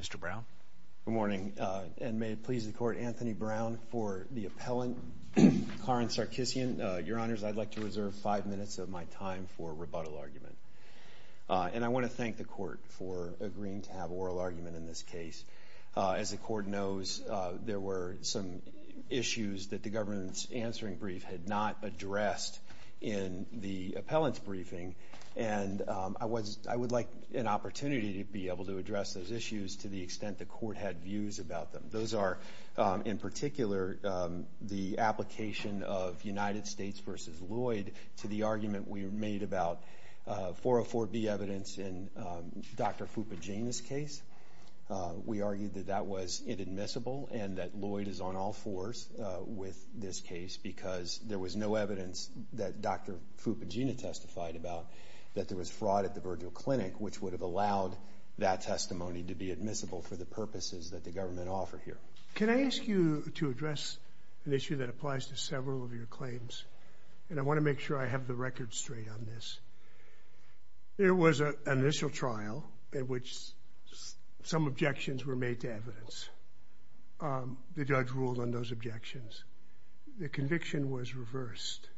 Mr. Brown. Good morning, and may it please the Court, Anthony Brown for the appellant, Karen Sarkissian. Your Honors, I'd like to reserve five minutes of my time for rebuttal argument, and I want to thank the Court for agreeing to have oral argument in this case. As the Court knows, there were some issues that the government's answering brief had not addressed in the appellant's briefing, and I would like an opportunity to be able to address those issues to the extent the Court had views about them. Those are, in particular, the application of United States v. Lloyd to the argument we made about 404B evidence in Dr. Fupagena's case. We argued that that was inadmissible and that Lloyd is on all fours with this case because there was no evidence that Dr. Fupagena testified about, that there was fraud at the Virgil Clinic, which would have allowed that testimony to be admissible for the purposes that the government offered here. Can I ask you to address an issue that applies to several of your claims, and I want to make sure I have the record straight on this. There was an initial trial in which some objections were made to evidence. The judge ruled on those objections. The conviction was reversed.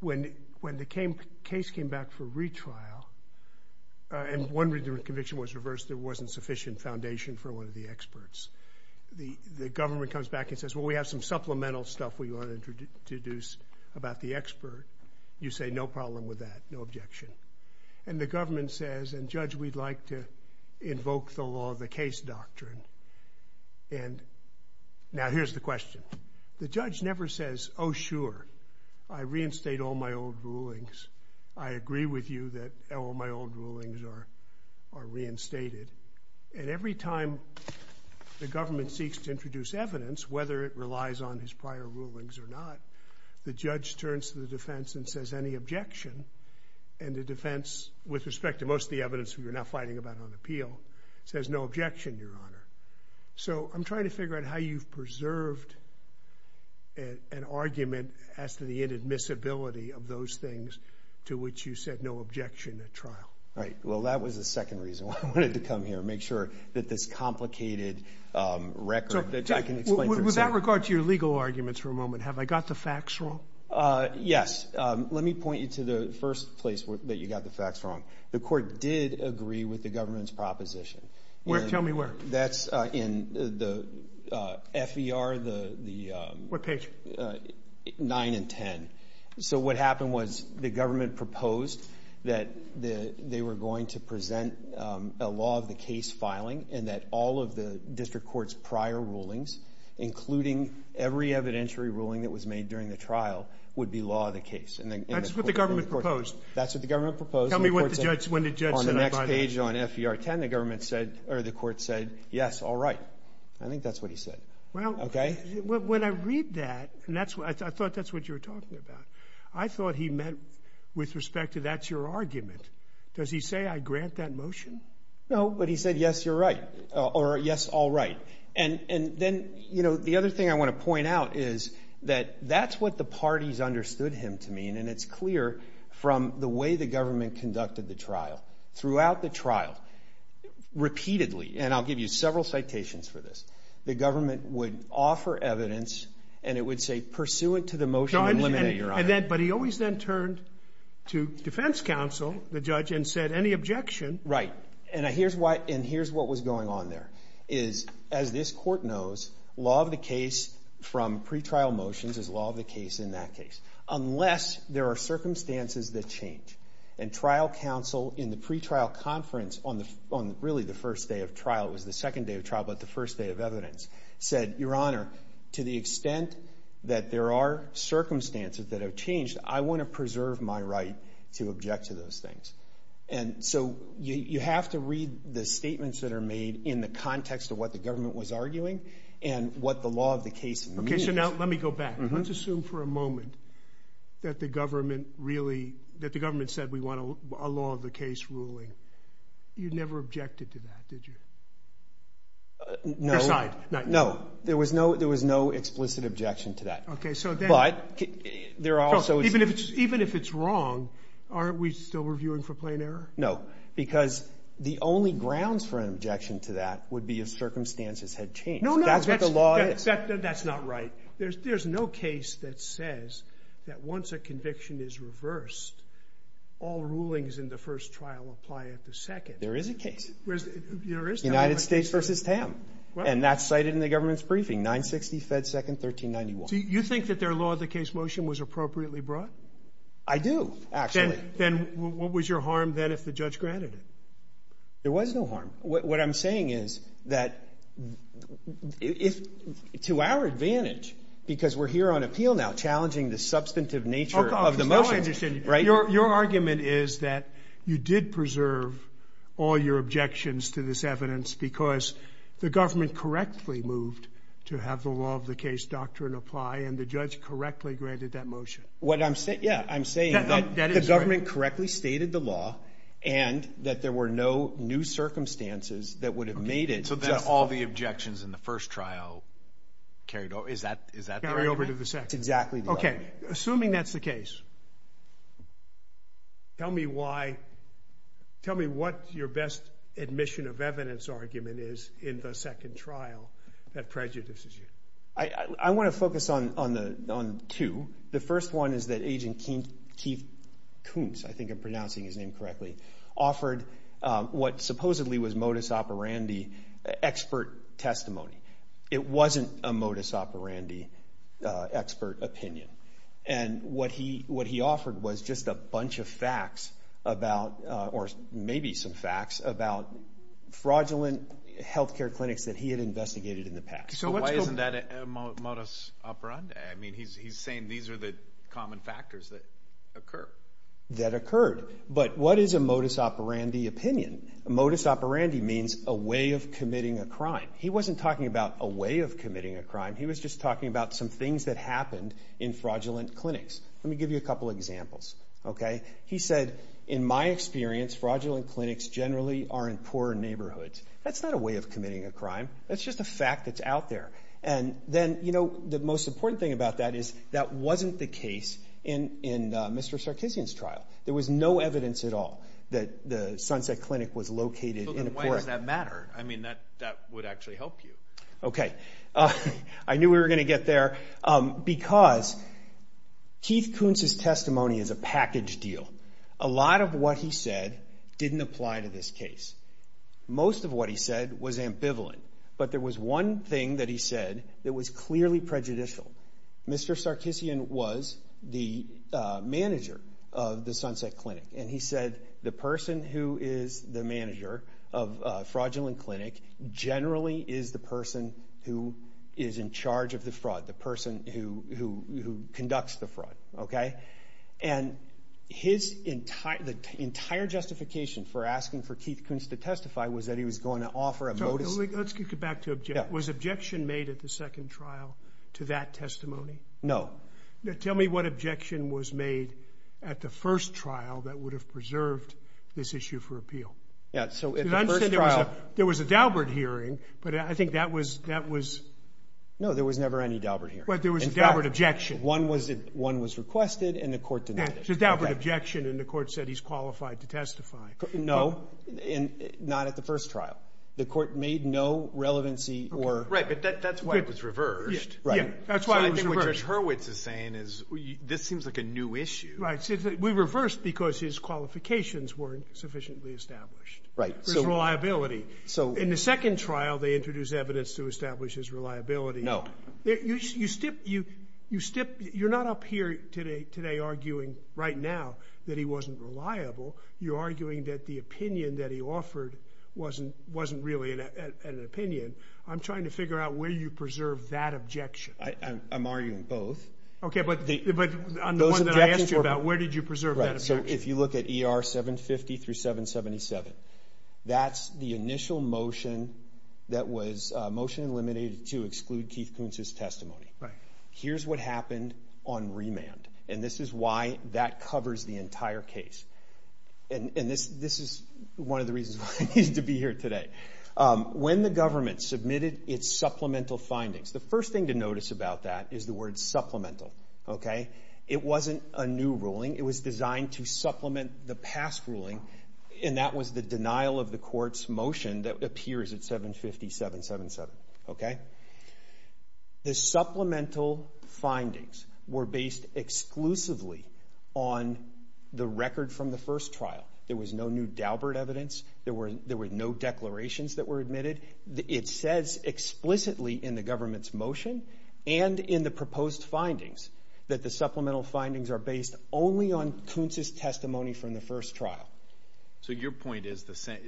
When the case came back for retrial, and one conviction was reversed, there wasn't sufficient foundation for one of the experts. The government comes back and says, well, we have some supplemental stuff we want to introduce about the expert. You say, no problem with that, no objection. And the government says, and judge, we'd like to invoke the law of the case doctrine. And now here's the question. The judge never says, oh sure, I reinstate all my old rulings. I agree with you that all my old rulings are reinstated. And every time the government seeks to introduce evidence, whether it relies on his prior rulings or not, the judge turns to the defense and says any objection, and the defense with respect to most of the evidence we're now fighting about on appeal, says no objection, your honor. So I'm trying to figure out how you've preserved an argument as to the inadmissibility of those things to which you said no objection at trial. Right, well that was the second reason why I wanted to come here, make sure that this complicated record that I can explain. With that regard to your legal arguments for a moment, have I got the facts wrong? Yes, let me point you to the first place that you got the facts wrong. The court did agree with the government's proposition. Where, tell me where. That's in the F.E.R., the, the, what page? Nine and ten. So what happened was the government proposed that the, they were going to present a law of the case filing, and that all of the district court's prior rulings, including every evidentiary ruling that was made during the trial, would be law of the case. And that's what the government proposed? That's what the government proposed. Tell me what the judge, when the judge said. On the next page on F.E.R. 10, the government said, or the court said, yes, all right. I think that's what he said. Well, okay. When I read that, and that's what, I thought that's what you were talking about. I thought he meant with respect to that's your argument. Does he say I grant that motion? No, but he said yes, you're right, or yes, all right. And, and then, you know, the other thing I want to point out is that that's what the parties understood him to mean, and it's clear from the way the government conducted the trial. Throughout the trial, repeatedly, and I'll give you several citations for this, the government would offer evidence, and it would say pursuant to the motion, eliminate your argument. But he always then turned to defense counsel, the judge, and said any objection. Right, and here's what, and here's what was going on there, is as this court knows, law of the case from pretrial motions is law of the case in that case, unless there are circumstances that change. And trial counsel in the pretrial conference on the, on really the first day of trial, it was the second day of trial, but the first day of evidence, said, your honor, to the extent that there are circumstances that have changed, I want to preserve my right to object to those things. And so, you, you have to read the statements that are made in the context of what the government was arguing, and what the law of the case means. Okay, so now, let me go back. Let's assume for a moment that the government really, that the government said we want a law of the case ruling. You never objected to that, did you? No. No, there was no, there was no explicit objection to that. Okay, so then. But, there are also. Even if it's, even if it's wrong, aren't we still reviewing for plain error? No, because the only grounds for an objection to that would be if circumstances had changed. No, no. That's what the law is. That, that's not right. There's, there's no case that says that once a conviction is reversed, all rulings in the first trial apply at the second. There is a case. Where's, there is. United States versus TAM. And that's cited in the government's briefing, 960 Fed Second 1391. Do you think that their law of the case motion was appropriately brought? I do, actually. Then, then what was your granted? There was no harm. What, what I'm saying is that if, to our advantage, because we're here on appeal now, challenging the substantive nature of the motion. Right. Your, your argument is that you did preserve all your objections to this evidence because the government correctly moved to have the law of the case doctrine apply and the judge correctly granted that motion. What I'm saying, yeah, I'm saying that the government correctly stated the law and that there were no new circumstances that would have made it. So then all the objections in the first trial carried over. Is that, is that carry over to the second? Exactly. Okay. Assuming that's the case. Tell me why. Tell me what your best admission of evidence argument is in the second trial that prejudices you. I, I want to focus on, on the, on two. The second trial that the judge correctly offered, what supposedly was modus operandi expert testimony. It wasn't a modus operandi expert opinion. And what he, what he offered was just a bunch of facts about, or maybe some facts about fraudulent health care clinics that he had investigated in the past. So why isn't that a modus operandi? I mean, he's, he's saying these are the common factors that occur. That occurred. But what is a modus operandi opinion? Modus operandi means a way of committing a crime. He wasn't talking about a way of committing a crime. He was just talking about some things that happened in fraudulent clinics. Let me give you a couple examples. Okay. He said, in my experience, fraudulent clinics generally are in poor neighborhoods. That's not a way of committing a crime. That's just a fact that's out there. And then, you know, the other thing about that is, that wasn't the case in, in Mr. Sarkissian's trial. There was no evidence at all that the Sunset Clinic was located in a poor... But then why does that matter? I mean, that, that would actually help you. Okay. I knew we were going to get there. Because Keith Kuntz's testimony is a package deal. A lot of what he said didn't apply to this case. Most of what he said was ambivalent. But there was one thing that he said that was clearly prejudicial. Mr. Sarkissian was the manager of the Sunset Clinic. And he said, the person who is the manager of a fraudulent clinic generally is the person who is in charge of the fraud. The person who, who, who conducts the fraud. Okay. And his entire, the entire justification for asking for Keith Kuntz to testify was that he was going to offer a motive... To that testimony? No. Now, tell me what objection was made at the first trial that would have preserved this issue for appeal? Yeah. So, at the first trial... Because I understand there was a, there was a Daubert hearing, but I think that was, that was... No, there was never any Daubert hearing. But there was a Daubert objection. In fact, one was, one was requested and the court denied it. Yeah. It was a Daubert objection and the court said he's qualified to testify. No. And not at the first trial. The court made no objection. So, it was reversed. Right. Yeah. That's why it was reversed. So, I think what Judge Hurwitz is saying is, this seems like a new issue. Right. We reversed because his qualifications weren't sufficiently established. Right. His reliability. So... In the second trial, they introduced evidence to establish his reliability. No. You, you, you, you, you're not up here today, today arguing right now that he wasn't reliable. You're arguing that the opinion that he offered wasn't, wasn't really an opinion. I'm trying to figure out where you preserved that objection. I, I'm arguing both. Okay, but the, but on the one that I asked you about, where did you preserve that objection? Right. So, if you look at ER 750 through 777, that's the initial motion that was motion eliminated to exclude Keith Koontz's testimony. Right. Here's what happened on remand. And this is why that covers the entire case. And, and this, this is one of the reasons why I need to be here today. When the government submitted its supplemental findings, the first thing to notice about that is the word supplemental. Okay. It wasn't a new ruling. It was designed to supplement the past ruling, and that was the denial of the court's motion that appears at 750-777. Okay. The supplemental findings were based exclusively on the record from the first trial. There was no new declarations that were admitted. It says explicitly in the government's motion and in the proposed findings that the supplemental findings are based only on Koontz's testimony from the first trial. So your point is the same,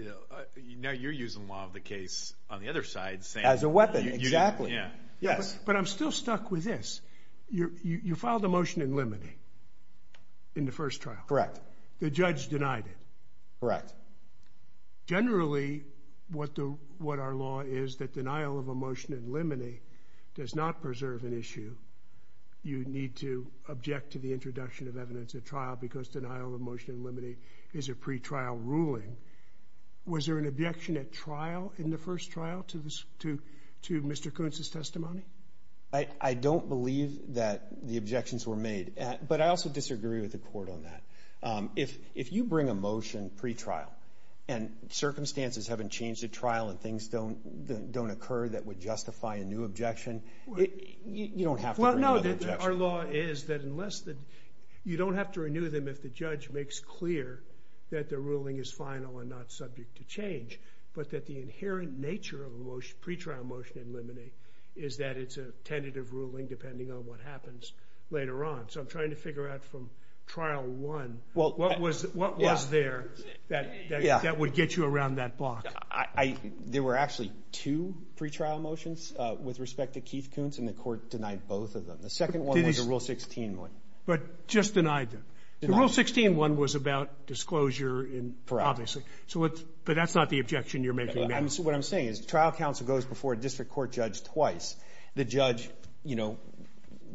you know, you're using law of the case on the other side. As a weapon, exactly. Yeah. Yes. But I'm still stuck with this. You, you filed a motion in limine in the first trial. Correct. The judge denied it. Correct. Generally, what the, what our law is, that denial of a motion in limine does not preserve an issue. You need to object to the introduction of evidence at trial because denial of motion in limine is a pretrial ruling. Was there an objection at trial in the first trial to this, to, to Mr. Koontz's testimony? I, I don't believe that the objections were made. But I also disagree with the court on that. If, if you bring a motion pretrial and circumstances haven't changed at trial and things don't, don't occur that would justify a new objection, you don't have to renew the objection. Well, no, our law is that unless the, you don't have to renew them if the judge makes clear that the ruling is final and not subject to change, but that the inherent nature of a motion, pretrial motion in limine is that it's a tentative ruling depending on what happens later on. So I'm trying to figure out from trial one, what was, what was there that, that, that would get you around that block? I, I, there were actually two pretrial motions with respect to Keith Koontz and the court denied both of them. The second one was the Rule 16 one. But just denied them. The Rule 16 one was about disclosure in, obviously. So what, but that's not the objection you're making now. I'm, what I'm saying is trial counsel goes before a district court judge twice. The judge, you know,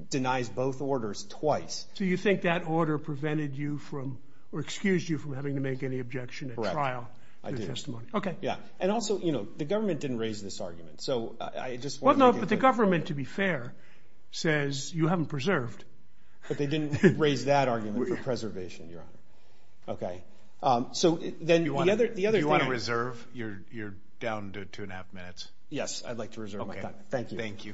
denies both orders twice. So you think that order prevented you from, or excused you from having to make any objection at trial? Correct. I did. Okay. Yeah. And also, you know, the government didn't raise this argument. So I just want to make it clear. Well, no, but the government, to be fair, says you haven't preserved. But they didn't raise that argument for preservation, Your Honor. Okay. So then the other, the other thing. Do you want to reserve? You're, you're down to two and a half minutes. Yes. I'd like to reserve my time. Thank you. Thank you.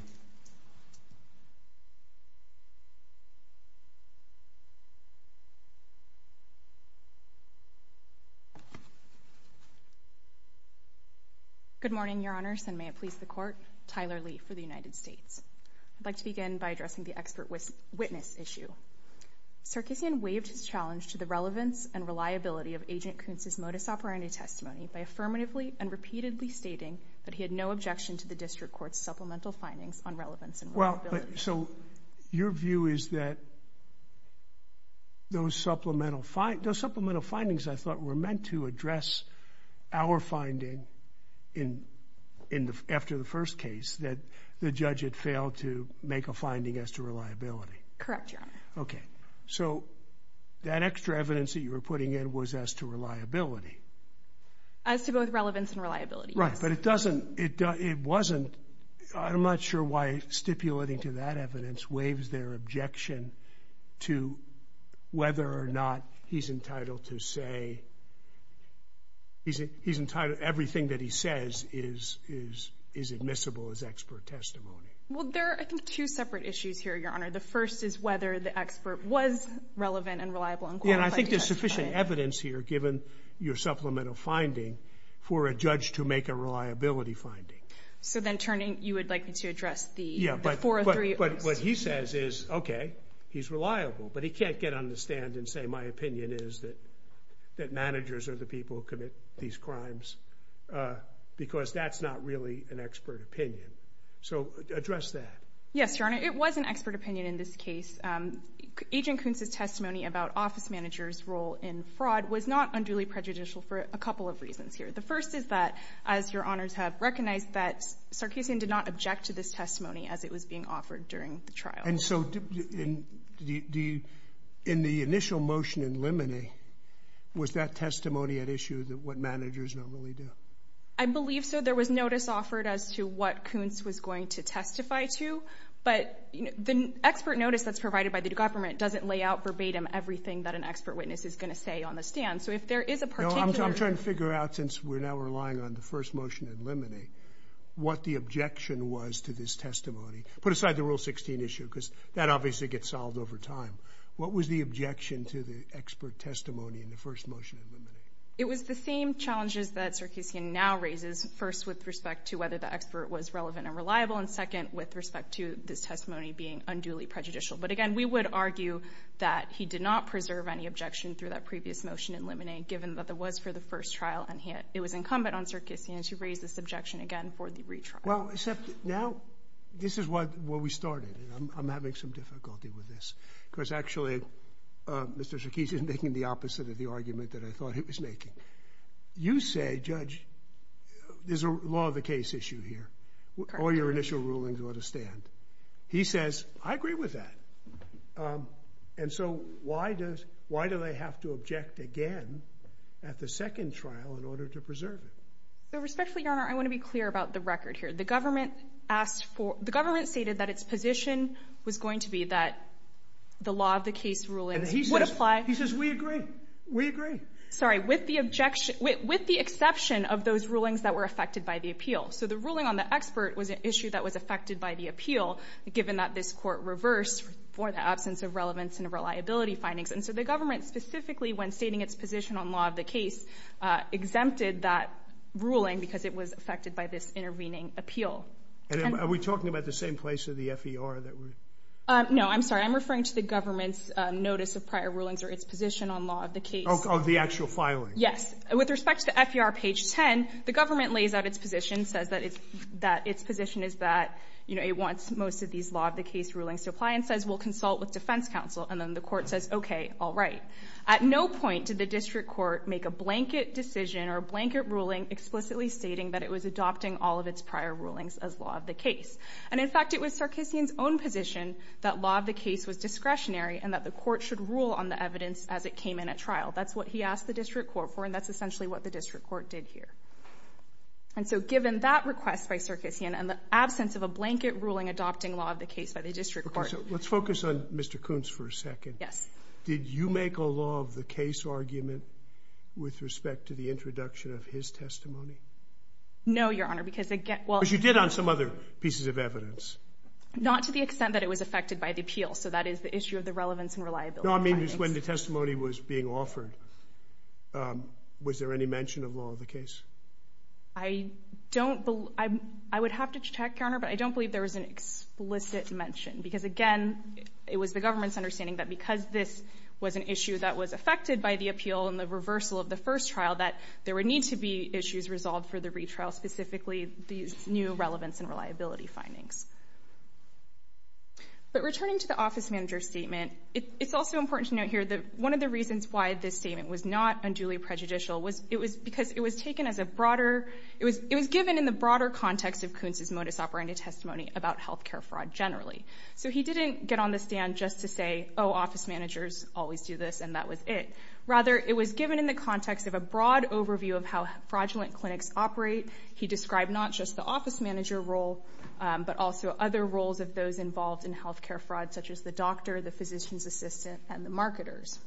Good morning, Your Honors, and may it please the court. Tyler Lee for the United States. I'd like to begin by addressing the expert witness issue. Sarkeesian waived his challenge to the relevance and reliability of Agent Kuntz's modus operandi testimony by affirmatively and repeatedly stating that he had no objection to the district court's supplemental findings on relevance and reliability. Well, so your view is that those supplemental findings, those supplemental findings, I thought, were meant to address our finding in, in the, after the first case that the Okay. So that extra evidence that you were putting in was as to reliability as to both relevance and reliability, right? But it doesn't. It doesn't. It wasn't. I'm not sure why stipulating to that evidence waives their objection to whether or not he's entitled to say he's he's entitled. Everything that he says is is is admissible as expert testimony. Well, there are two separate issues here, Your Honor. The first is whether the expert was relevant and reliable. And I think there's sufficient evidence here, given your supplemental finding, for a judge to make a reliability finding. So then turning, you would like me to address the four or three. But what he says is, okay, he's reliable, but he can't get on the stand and say my opinion is that managers are the people who commit these crimes because that's not really an expert opinion. So address that. Yes, Your Honor. It was an expert opinion. In this case, Agent Kunz's testimony about office managers role in fraud was not unduly prejudicial for a couple of reasons here. The first is that, as your honors have recognized, that Sarkisian did not object to this testimony as it was being offered during the trial. And so in the in the initial motion in limine, was that testimony at issue that what managers normally do? I believe so. There was notice offered as to what Kunz was going to testify to, but the expert notice that's provided by the government doesn't lay out verbatim everything that an expert witness is gonna say on the stand. So if there is a particular... No, I'm trying to figure out, since we're now relying on the first motion in limine, what the objection was to this testimony. Put aside the Rule 16 issue, because that obviously gets solved over time. What was the objection to the expert testimony in the first motion in limine? It was the same challenges that Sarkisian now raises. First, with respect to whether the expert was relevant and reliable, and second, with respect to this testimony being unduly prejudicial. But again, we would argue that he did not preserve any objection through that previous motion in limine, given that it was for the first trial and it was incumbent on Sarkisian to raise this objection again for the retrial. Well, except now, this is where we started, and I'm having some difficulty with this. Because actually, Mr. Sarkisian is making the opposite of the argument that I thought he was making. You say, Judge, there's a law of the case issue here. All your initial rulings ought to stand. He says, I agree with that. And so why do they have to object again at the second trial in order to preserve it? Respectfully, Your Honor, I wanna be clear about the record here. The government stated that its position was going to be that the law of the case rulings would apply... And he says, we agree. We agree. Sorry, with the exception of those rulings that were affected by the appeal. So the ruling on the expert was an issue that was affected by the appeal, given that this court reversed for the absence of relevance and reliability findings. And so the government, specifically, when stating its position on law of the case, exempted that ruling because it was affected by this intervening appeal. And are we talking about the same place or the FER that we're... No, I'm sorry. I'm referring to the government's notice of prior rulings or its position on law of the case. Oh, the actual filing. Yes. With respect to the FER page 10, the government lays out its position, says that its position is that it wants most of these law of the case rulings to apply and says, we'll consult with defense counsel. And then the court says, okay, all right. At no point did the district court make a blanket decision or a blanket ruling explicitly stating that it was adopting all of its prior rulings as law of the case. And in fact, it was Sarkissian's own position that law of the case was discretionary and that the court should rule on the evidence as it came in at trial. That's what he asked the district court for, and that's essentially what the district court did here. And so given that request by Sarkissian and the absence of a blanket ruling adopting law of the case by the district court... Okay, so let's focus on Mr. Kuntz for a second. Yes. Did you make a law of the case argument with respect to the introduction of his testimony? No, Your Honor, because again... Well, you did on some other pieces of evidence. Not to the extent that it was affected by the appeal. So that is the issue of the relevance and reliability. No, I mean, just when the testimony was being offered, was there any mention of law of the case? I don't believe... I would have to check, Your Honor, but I don't believe there was an explicit mention, because again, it was the government's understanding that because this was an issue that was affected by the appeal and the reversal of the first trial, that there would need to be issues resolved for the retrial, specifically these new relevance and reliability findings. But returning to the office manager's statement, it's also important to note here that one of the reasons why this statement was not unduly prejudicial was it was because it was taken as a broader... It was given in the broader context of Kuntz's modus operandi testimony about healthcare fraud generally. So he didn't get on the stand just to say, oh, office managers always do this and that was it. Rather, it was given in the context of a broad overview of how fraudulent clinics operate. He described not just the office manager role, but also other roles of those involved in healthcare fraud, such as the doctor, the physician's assistant, and the marketers.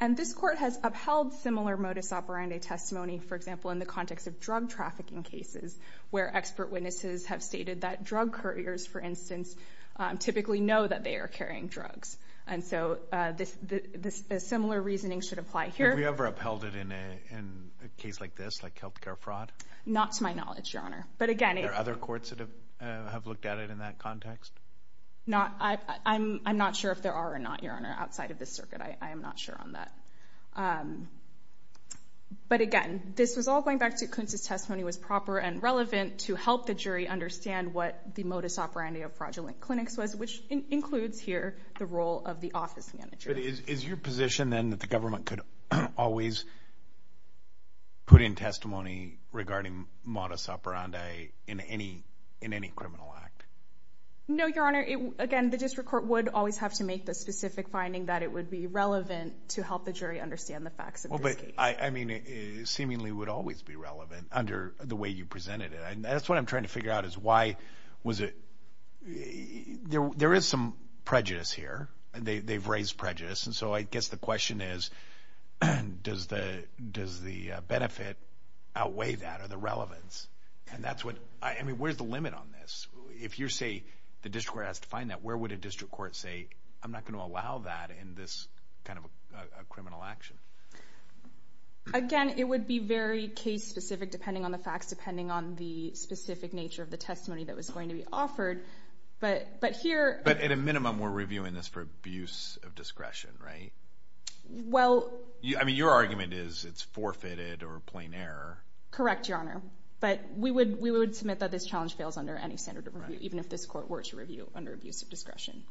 And this court has upheld similar modus operandi testimony, for example, in the context of drug trafficking cases, where expert witnesses have stated that drug couriers, for instance, typically know that they are carrying drugs. And so a similar reasoning should apply here. Have we ever upheld it in a case like this, like healthcare fraud? Not to my knowledge, Your Honor. But again... Are there other courts that have looked at it in that context? I'm not sure if there are or not, Your Honor, outside of this circuit. I am not sure on that. But again, this was all going back to Kuntz's testimony was proper and relevant to help the jury understand what the modus operandi of fraudulent clinics was, which includes here the role of the office manager. But is your position, then, that the government could always put in testimony regarding modus operandi in any criminal act? No, Your Honor. Again, the district court would always have to make the specific finding that it would be relevant to help the jury understand the facts of this case. I mean, it seemingly would always be relevant under the way you presented it. And that's what I'm trying to figure out is why was it... There is some prejudice here. They've raised prejudice. And so I guess the question is, does the benefit outweigh that or the relevance? And that's what... Where's the limit on this? If you say the district court has to find that, where would a district court say, I'm not gonna allow that in this kind of a criminal action? Again, it would be very case specific depending on the facts, depending on the specific nature of the testimony that was going to be heard. But here... But at a minimum, we're reviewing this for abuse of discretion, right? Well... I mean, your argument is it's forfeited or plain error. Correct, Your Honor. But we would submit that this challenge fails under any standard of review, even if this court were to review under abuse of discretion.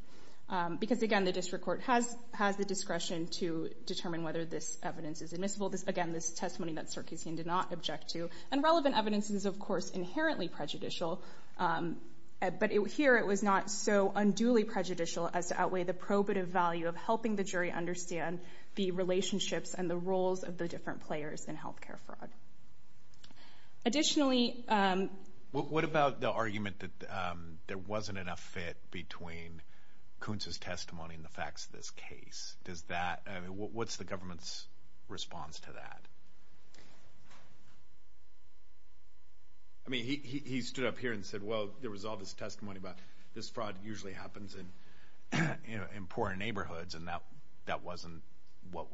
Because again, the district court has the discretion to determine whether this evidence is admissible. Again, this testimony that Sarkisian did not object to. And relevant evidence is, of course, inherently prejudicial. But here, it was not so unduly prejudicial as to outweigh the probative value of helping the jury understand the relationships and the roles of the different players in healthcare fraud. Additionally... What about the argument that there wasn't enough fit between Kuntz's testimony and the facts of this case? Does that... What's the government's response to that? I mean, he stood up here and said, well, there was all this testimony about this fraud usually happens in poor neighborhoods, and that wasn't what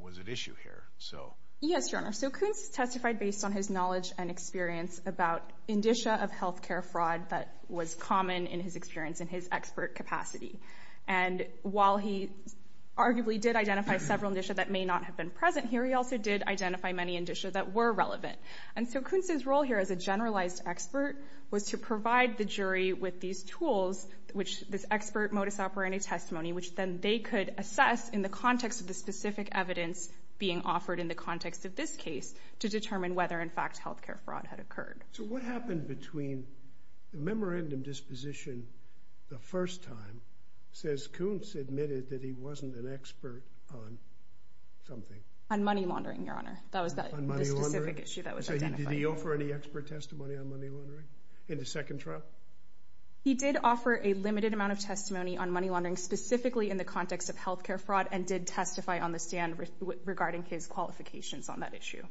was at issue here. So... Yes, Your Honor. So Kuntz testified based on his knowledge and experience about indicia of healthcare fraud that was common in his experience in his expert capacity. And while he arguably did identify several indicia that may not have been present here, he also did identify many indicia that were relevant. And so Kuntz's role here as a generalized expert was to provide the jury with these tools, which this expert modus operandi testimony, which then they could assess in the context of the specific evidence being offered in the context of this case to determine whether, in fact, healthcare fraud had occurred. So what happened between the memorandum disposition the first time, says Kuntz admitted that he wasn't an expert on something? On money laundering, Your Honor. That was the specific issue that was identified. So did he offer any expert testimony on money laundering in the second trial? He did offer a limited amount of testimony on money laundering, specifically in the context of healthcare fraud, and did testify on the stand regarding his qualifications on that issue.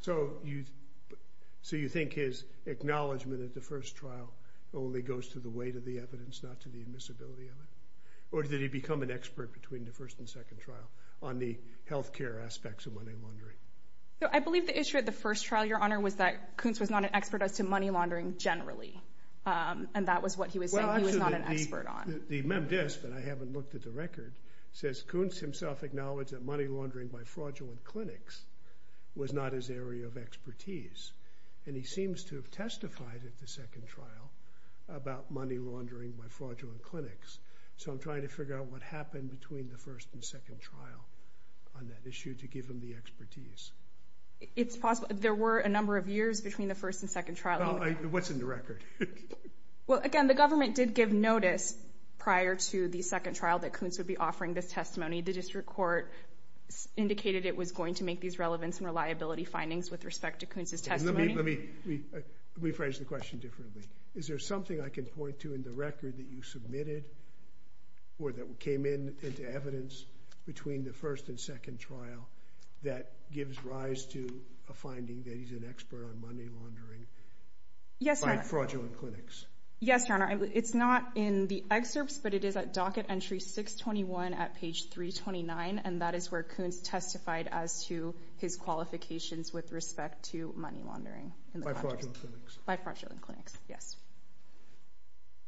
So you think his acknowledgement at the first trial only goes to the weight of the evidence, not to the admissibility of it? Or did he become an expert between the first and second trial on the healthcare aspects of money laundering? So I believe the issue at the first trial, Your Honor, was that Kuntz was not an expert as to money laundering generally, and that was what he was saying he was not an expert on. Well, actually, the MemDisc, but I haven't looked at the record, says Kuntz himself acknowledged that money laundering by fraudulent clinics was not his area of expertise, and he seems to have testified at the second trial about money laundering by fraudulent clinics. So I'm trying to figure out what happened between the first and second trial on that issue to give him the expertise. It's possible. There were a number of years between the first and second trial. Well, what's in the record? Well, again, the government did give notice prior to the second trial that Kuntz would be offering this testimony. The district court indicated it was going to make these relevance and reliability findings with respect to Kuntz's testimony. Let me rephrase the question differently. Is there something I can point to in the record that you submitted or that came into evidence between the first and second trial that gives rise to a finding that he's an expert on money laundering by fraudulent clinics? Yes, Your Honor. It's not in the excerpts, but it is at docket entry 621 at page 329, and that is where Kuntz testified as to his qualifications with respect to money laundering. By fraudulent clinics. By fraudulent clinics.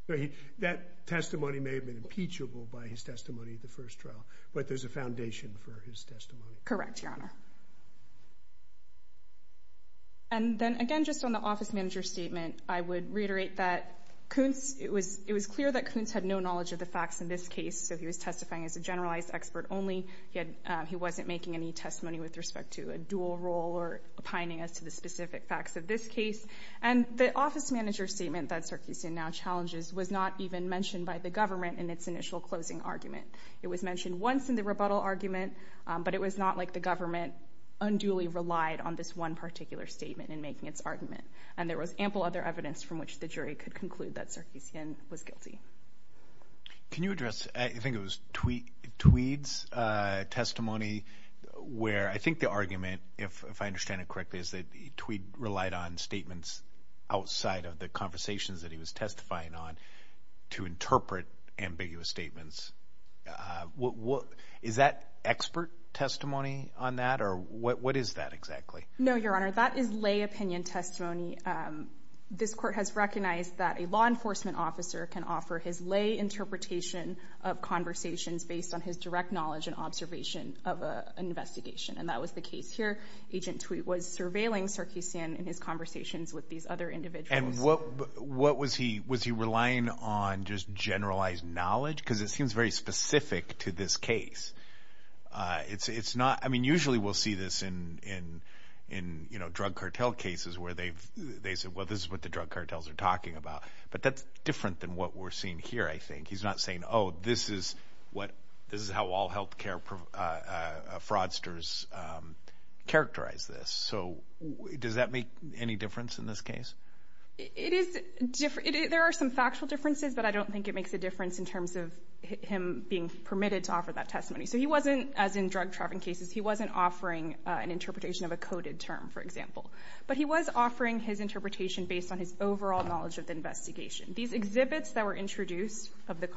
His testimony may have been impeachable by his testimony at the first trial, but there's a foundation for his testimony. Correct, Your Honor. And then again, just on the office manager's statement, I would reiterate that Kuntz... It was clear that Kuntz had no knowledge of the facts in this case, so he was testifying as a generalized expert only. He wasn't making any testimony with respect to a dual role or opining that Sarkisian now challenges was not even mentioned by the government in its initial closing argument. It was mentioned once in the rebuttal argument, but it was not like the government unduly relied on this one particular statement in making its argument. And there was ample other evidence from which the jury could conclude that Sarkisian was guilty. Can you address... I think it was Tweed's testimony where I think the argument, if I understand it correctly, is that Tweed relied on statements outside of the conversations that he was testifying on to interpret ambiguous statements. Is that expert testimony on that or what is that exactly? No, Your Honor, that is lay opinion testimony. This court has recognized that a law enforcement officer can offer his lay interpretation of conversations based on his direct knowledge and observation of an investigation, and that was the case here. Agent Tweed was surveilling Sarkisian in his conversations with these other individuals. And what was he... Was he relying on just generalized knowledge? Because it seems very specific to this case. I mean, usually we'll see this in drug cartel cases where they've... They said, well, this is what the drug cartels are talking about. But that's different than what we're seeing here, I think. He's not saying, oh, this is what... This is how all healthcare fraudsters characterize this. So does that make any difference in this case? There are some factual differences, but I don't think it makes a difference in terms of him being permitted to offer that testimony. So he wasn't, as in drug trafficking cases, he wasn't offering an interpretation of a coded term, for example. But he was offering his interpretation based on his overall knowledge of the investigation. These exhibits that were introduced of the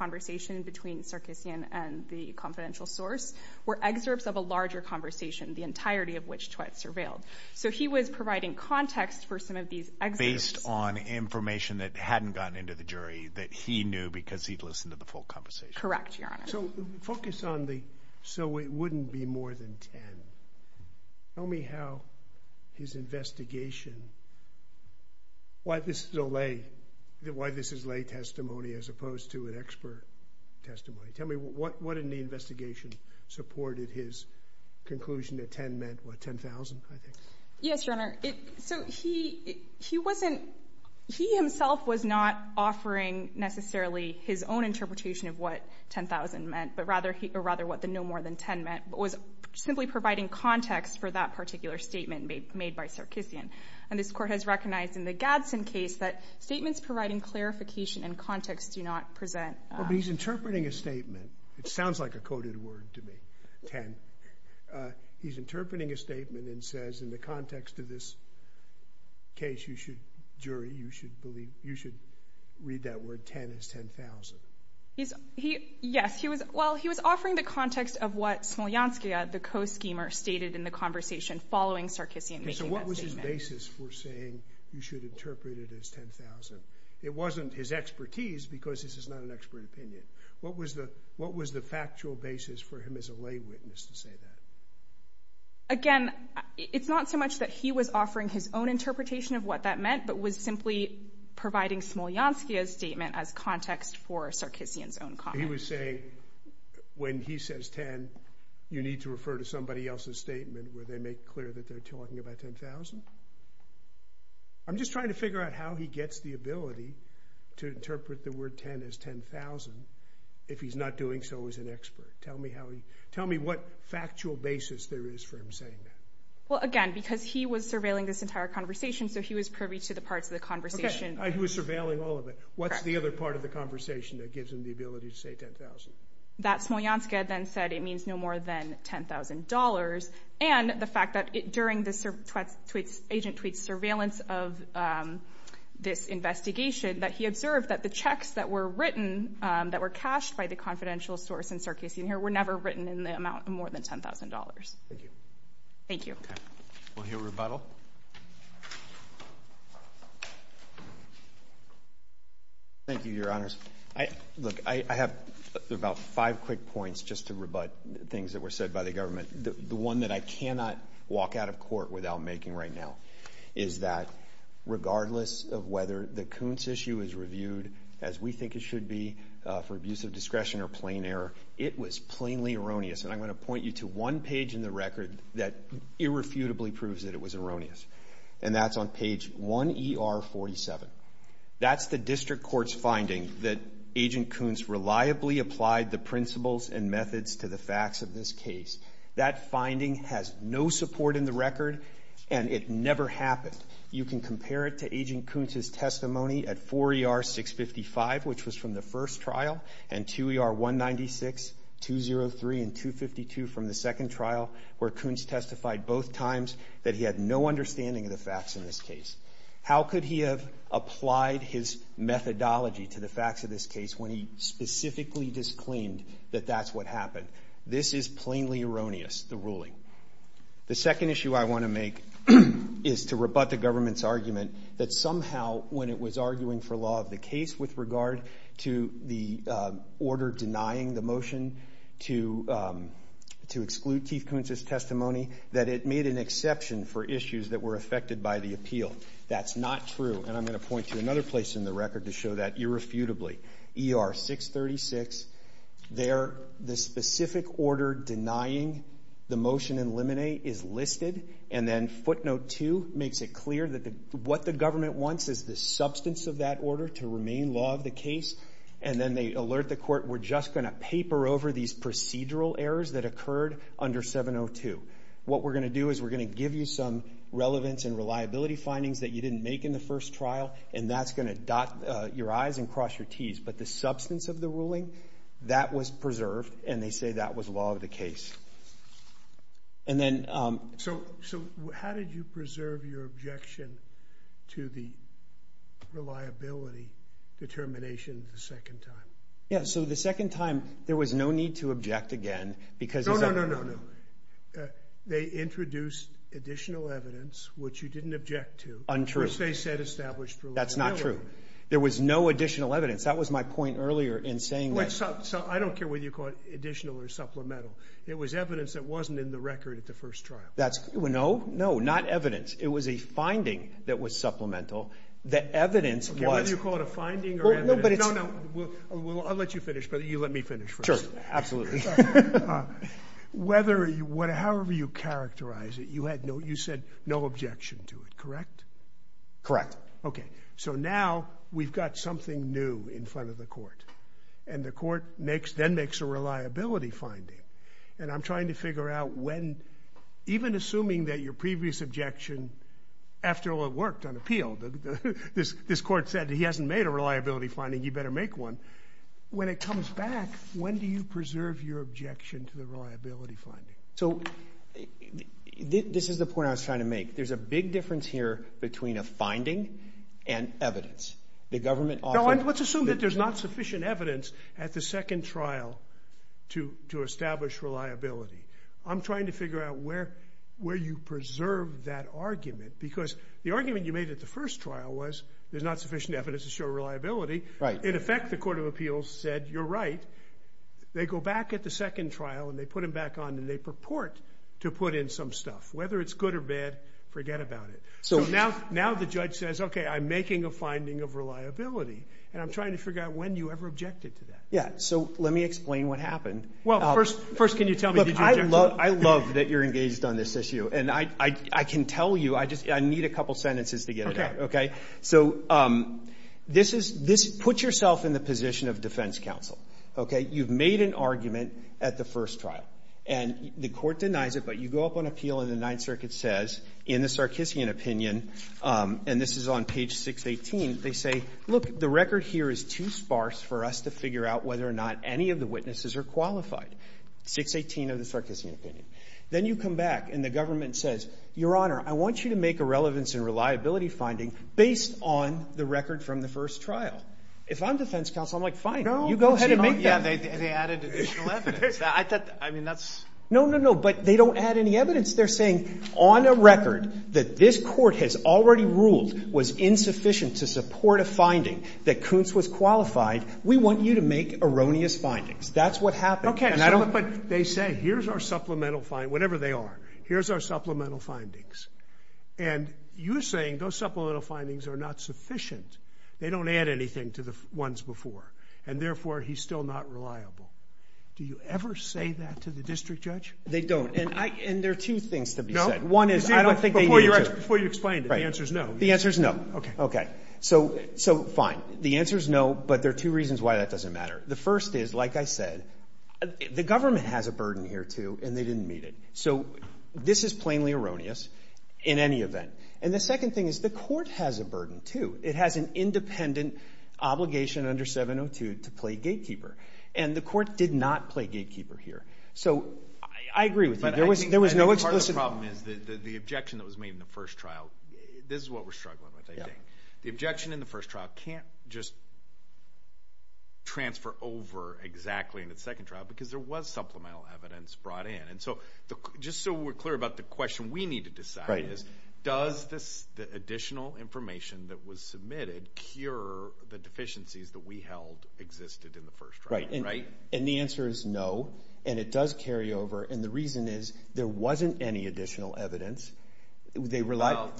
confidential source were excerpts of a larger conversation, the entirety of which Tweed surveilled. So he was providing context for some of these excerpts. Based on information that hadn't gotten into the jury that he knew because he'd listened to the full conversation. Correct, Your Honor. So focus on the... So it wouldn't be more than 10. Tell me how his investigation... Why this is a lay... Why this is lay testimony as opposed to an investigation supported his conclusion that 10 meant, what, 10,000, I think? Yes, Your Honor. So he wasn't... He himself was not offering necessarily his own interpretation of what 10,000 meant, but rather what the no more than 10 meant, but was simply providing context for that particular statement made by Sarkeesian. And this court has recognized in the Gadsden case that statements providing clarification and context do not present... But he's interpreting a statement. It sounds like a coded word to me, 10. He's interpreting a statement and says, in the context of this case, you should, jury, you should believe... You should read that word 10 as 10,000. Yes, he was... Well, he was offering the context of what Smolianski, the co-schemer, stated in the conversation following Sarkeesian making that statement. So what was his basis for saying you should interpret it as 10,000? It wasn't his expertise because this is not an expert opinion. What was the factual basis for him as a lay witness to say that? Again, it's not so much that he was offering his own interpretation of what that meant, but was simply providing Smolianski's statement as context for Sarkeesian's own comment. He was saying, when he says 10, you need to refer to somebody else's statement where they make clear that they're talking about 10,000? I'm just trying to see if he's not doing so as an expert. Tell me how he... Tell me what factual basis there is for him saying that. Well, again, because he was surveilling this entire conversation, so he was privy to the parts of the conversation. Okay, he was surveilling all of it. What's the other part of the conversation that gives him the ability to say 10,000? That Smolianski then said, it means no more than $10,000. And the fact that during the agent tweets surveillance of this investigation, that he observed that the checks that were written, that were cashed by the confidential source in Sarkeesian here were never written in the amount of more than $10,000. Thank you. Thank you. Okay. We'll hear a rebuttal. Thank you, Your Honors. Look, I have about five quick points just to rebut things that were said by the government. The one that I cannot walk out of court without making right now is that regardless of whether the Coons issue is reviewed as we think it should be for abuse of discretion or plain error, it was plainly erroneous. And I'm going to point you to one page in the record that irrefutably proves that it was erroneous, and that's on page 1ER47. That's the district court's finding that Agent Coons reliably applied the principles and methods to the facts of this case. That finding has no support in the record, and it never happened. You can compare it to Agent Coons' testimony at 4ER655, which was from the first trial, and 2ER196, 203, and 252 from the second trial, where Coons testified both times that he had no understanding of the facts in this case. How could he have applied his methodology to the facts of this case when he specifically disclaimed that that's what happened? This is plainly erroneous, the ruling. The second issue I want to make is to rebut the government's argument that somehow, when it was arguing for law of the case with regard to the order denying the motion to exclude Chief Coons' testimony, that it made an exception for issues that were affected by the appeal. That's not true, and I'm going to point to another place in the record to show that irrefutably. ER636, there, the specific order denying the motion in limine is listed, and then footnote two makes it clear that what the government wants is the substance of that order to remain law of the case, and then they alert the court, we're just gonna paper over these procedural errors that occurred under 702. What we're gonna do is we're gonna give you some relevance and reliability findings that you didn't make in the first trial, and that's gonna dot your I's and cross your T's, but the substance of the ruling, that was preserved, and they say that was law of the case. And then... So, how did you preserve your objection to the reliability determination the second time? Yeah, so the second time, there was no need to object again, because... No, no, no, no, no, no. They introduced additional evidence, which you didn't object to. Untrue. First, they said established reliability. That's not true. There was no additional evidence. That was my point earlier in saying that... I don't care whether you call it additional or supplemental. It was evidence that wasn't in the record at the first trial. That's... No, no, not evidence. It was a finding that was supplemental. The evidence was... Whether you call it a finding or evidence... No, no, but it's... No, no. I'll let you finish, but you let me finish first. Sure, absolutely. Whether... However you characterize it, you had no... You said no objection to it, correct? Correct. Okay. So now, we've got something new in front of the court, and the court then makes a reliability finding, and I'm trying to figure out when... Even assuming that your previous objection, after all it worked on appeal, this court said he hasn't made a reliability finding, you better make one. When it comes back, when do you preserve your objection to the reliability finding? So, this is the point I was trying to make. There's a big difference here between a finding and evidence. The government often... No, and let's assume that there's not sufficient evidence at the second trial to establish reliability. I'm trying to figure out where you preserve that argument, because the argument you made at the first trial was there's not sufficient evidence to show reliability. Right. In effect, the Court of Appeals said, you're right. They go back at the second trial, and they put him back on, and they purport to put in some stuff. Whether it's good or bad, forget about it. So now the judge says, okay, I'm making a finding of reliability, and I'm trying to figure out when you ever objected to that. Yeah, so let me explain what happened. Well, first, can you tell me did you object to it? I love that you're engaged on this issue, and I can tell you, I need a couple sentences to get it out. Okay. So, put yourself in the position of defense counsel. You've made an argument at the first trial, and the court denies it, but you go up on appeal and the Ninth Circuit says, in the Sarkissian opinion, and this is on page 618, they say, look, the record here is too sparse for us to figure out whether or not any of the witnesses are qualified. 618 of the Sarkissian opinion. Then you come back, and the government says, Your Honor, I want you to make a relevance and reliability finding based on the record from the first trial. If I'm defense counsel, I'm like, fine. You go ahead and make that. Yeah, they added additional evidence. I mean, that's... No, no, no. But they don't add any evidence. They're saying on a record that this court has already ruled was insufficient to support a finding that Kuntz was qualified. We want you to make erroneous findings. That's what happened. Okay. But they say, here's our supplemental... Whatever they are. Here's our supplemental findings. And you're saying those supplemental findings are not sufficient. They don't add anything to the ones before, and therefore, he's still not reliable. Do you ever say that to the district judge? They don't. And there are two things to be said. No. One is, I don't think they need to. Before you explain it, the answer is no. The answer is no. Okay. Okay. So, fine. The answer is no, but there are two reasons why that doesn't matter. The first is, like I said, the government has a burden here, too, and they didn't meet it. So this is plainly erroneous in any event. And the second thing is, the court has a burden, too. It has an independent obligation under 702 to play gatekeeper. And the court did not play gatekeeper here. So, I agree with you. There was no explicit... But I think part of the problem is, the objection that was made in the first trial, this is what we're struggling with, I think. The objection in the first trial can't just transfer over exactly in the second trial, because there was supplemental evidence brought in. And so, just so we're clear about the question we need to decide is, does this additional information that was submitted cure the deficiencies that we held existed in the first trial? Right. And the answer is no, and it does carry over. And the reason is, there wasn't any additional evidence. There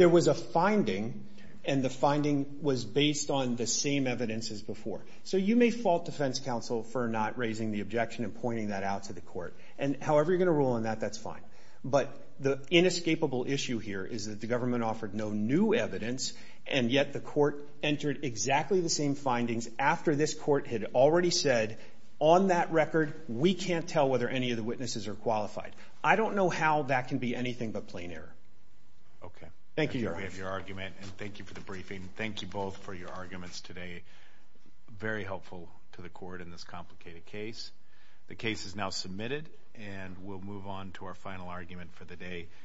was a finding, and the finding was based on the same evidence as before. So you may fault defense counsel for not raising the objection and pointing that out to the court. And however you're gonna rule on that, that's fine. But the inescapable issue here is that the government offered no new evidence, and yet the court entered exactly the same findings after this court had already said, on that record, we can't tell whether any of the witnesses are qualified. I don't know how that can be anything but plain error. Okay. Thank you, Your Honor. We have your argument, and thank you for the briefing. Thank you both for your arguments today. Very helpful to the court in this complicated case. The case is now submitted, and we'll move on to our final argument for the day.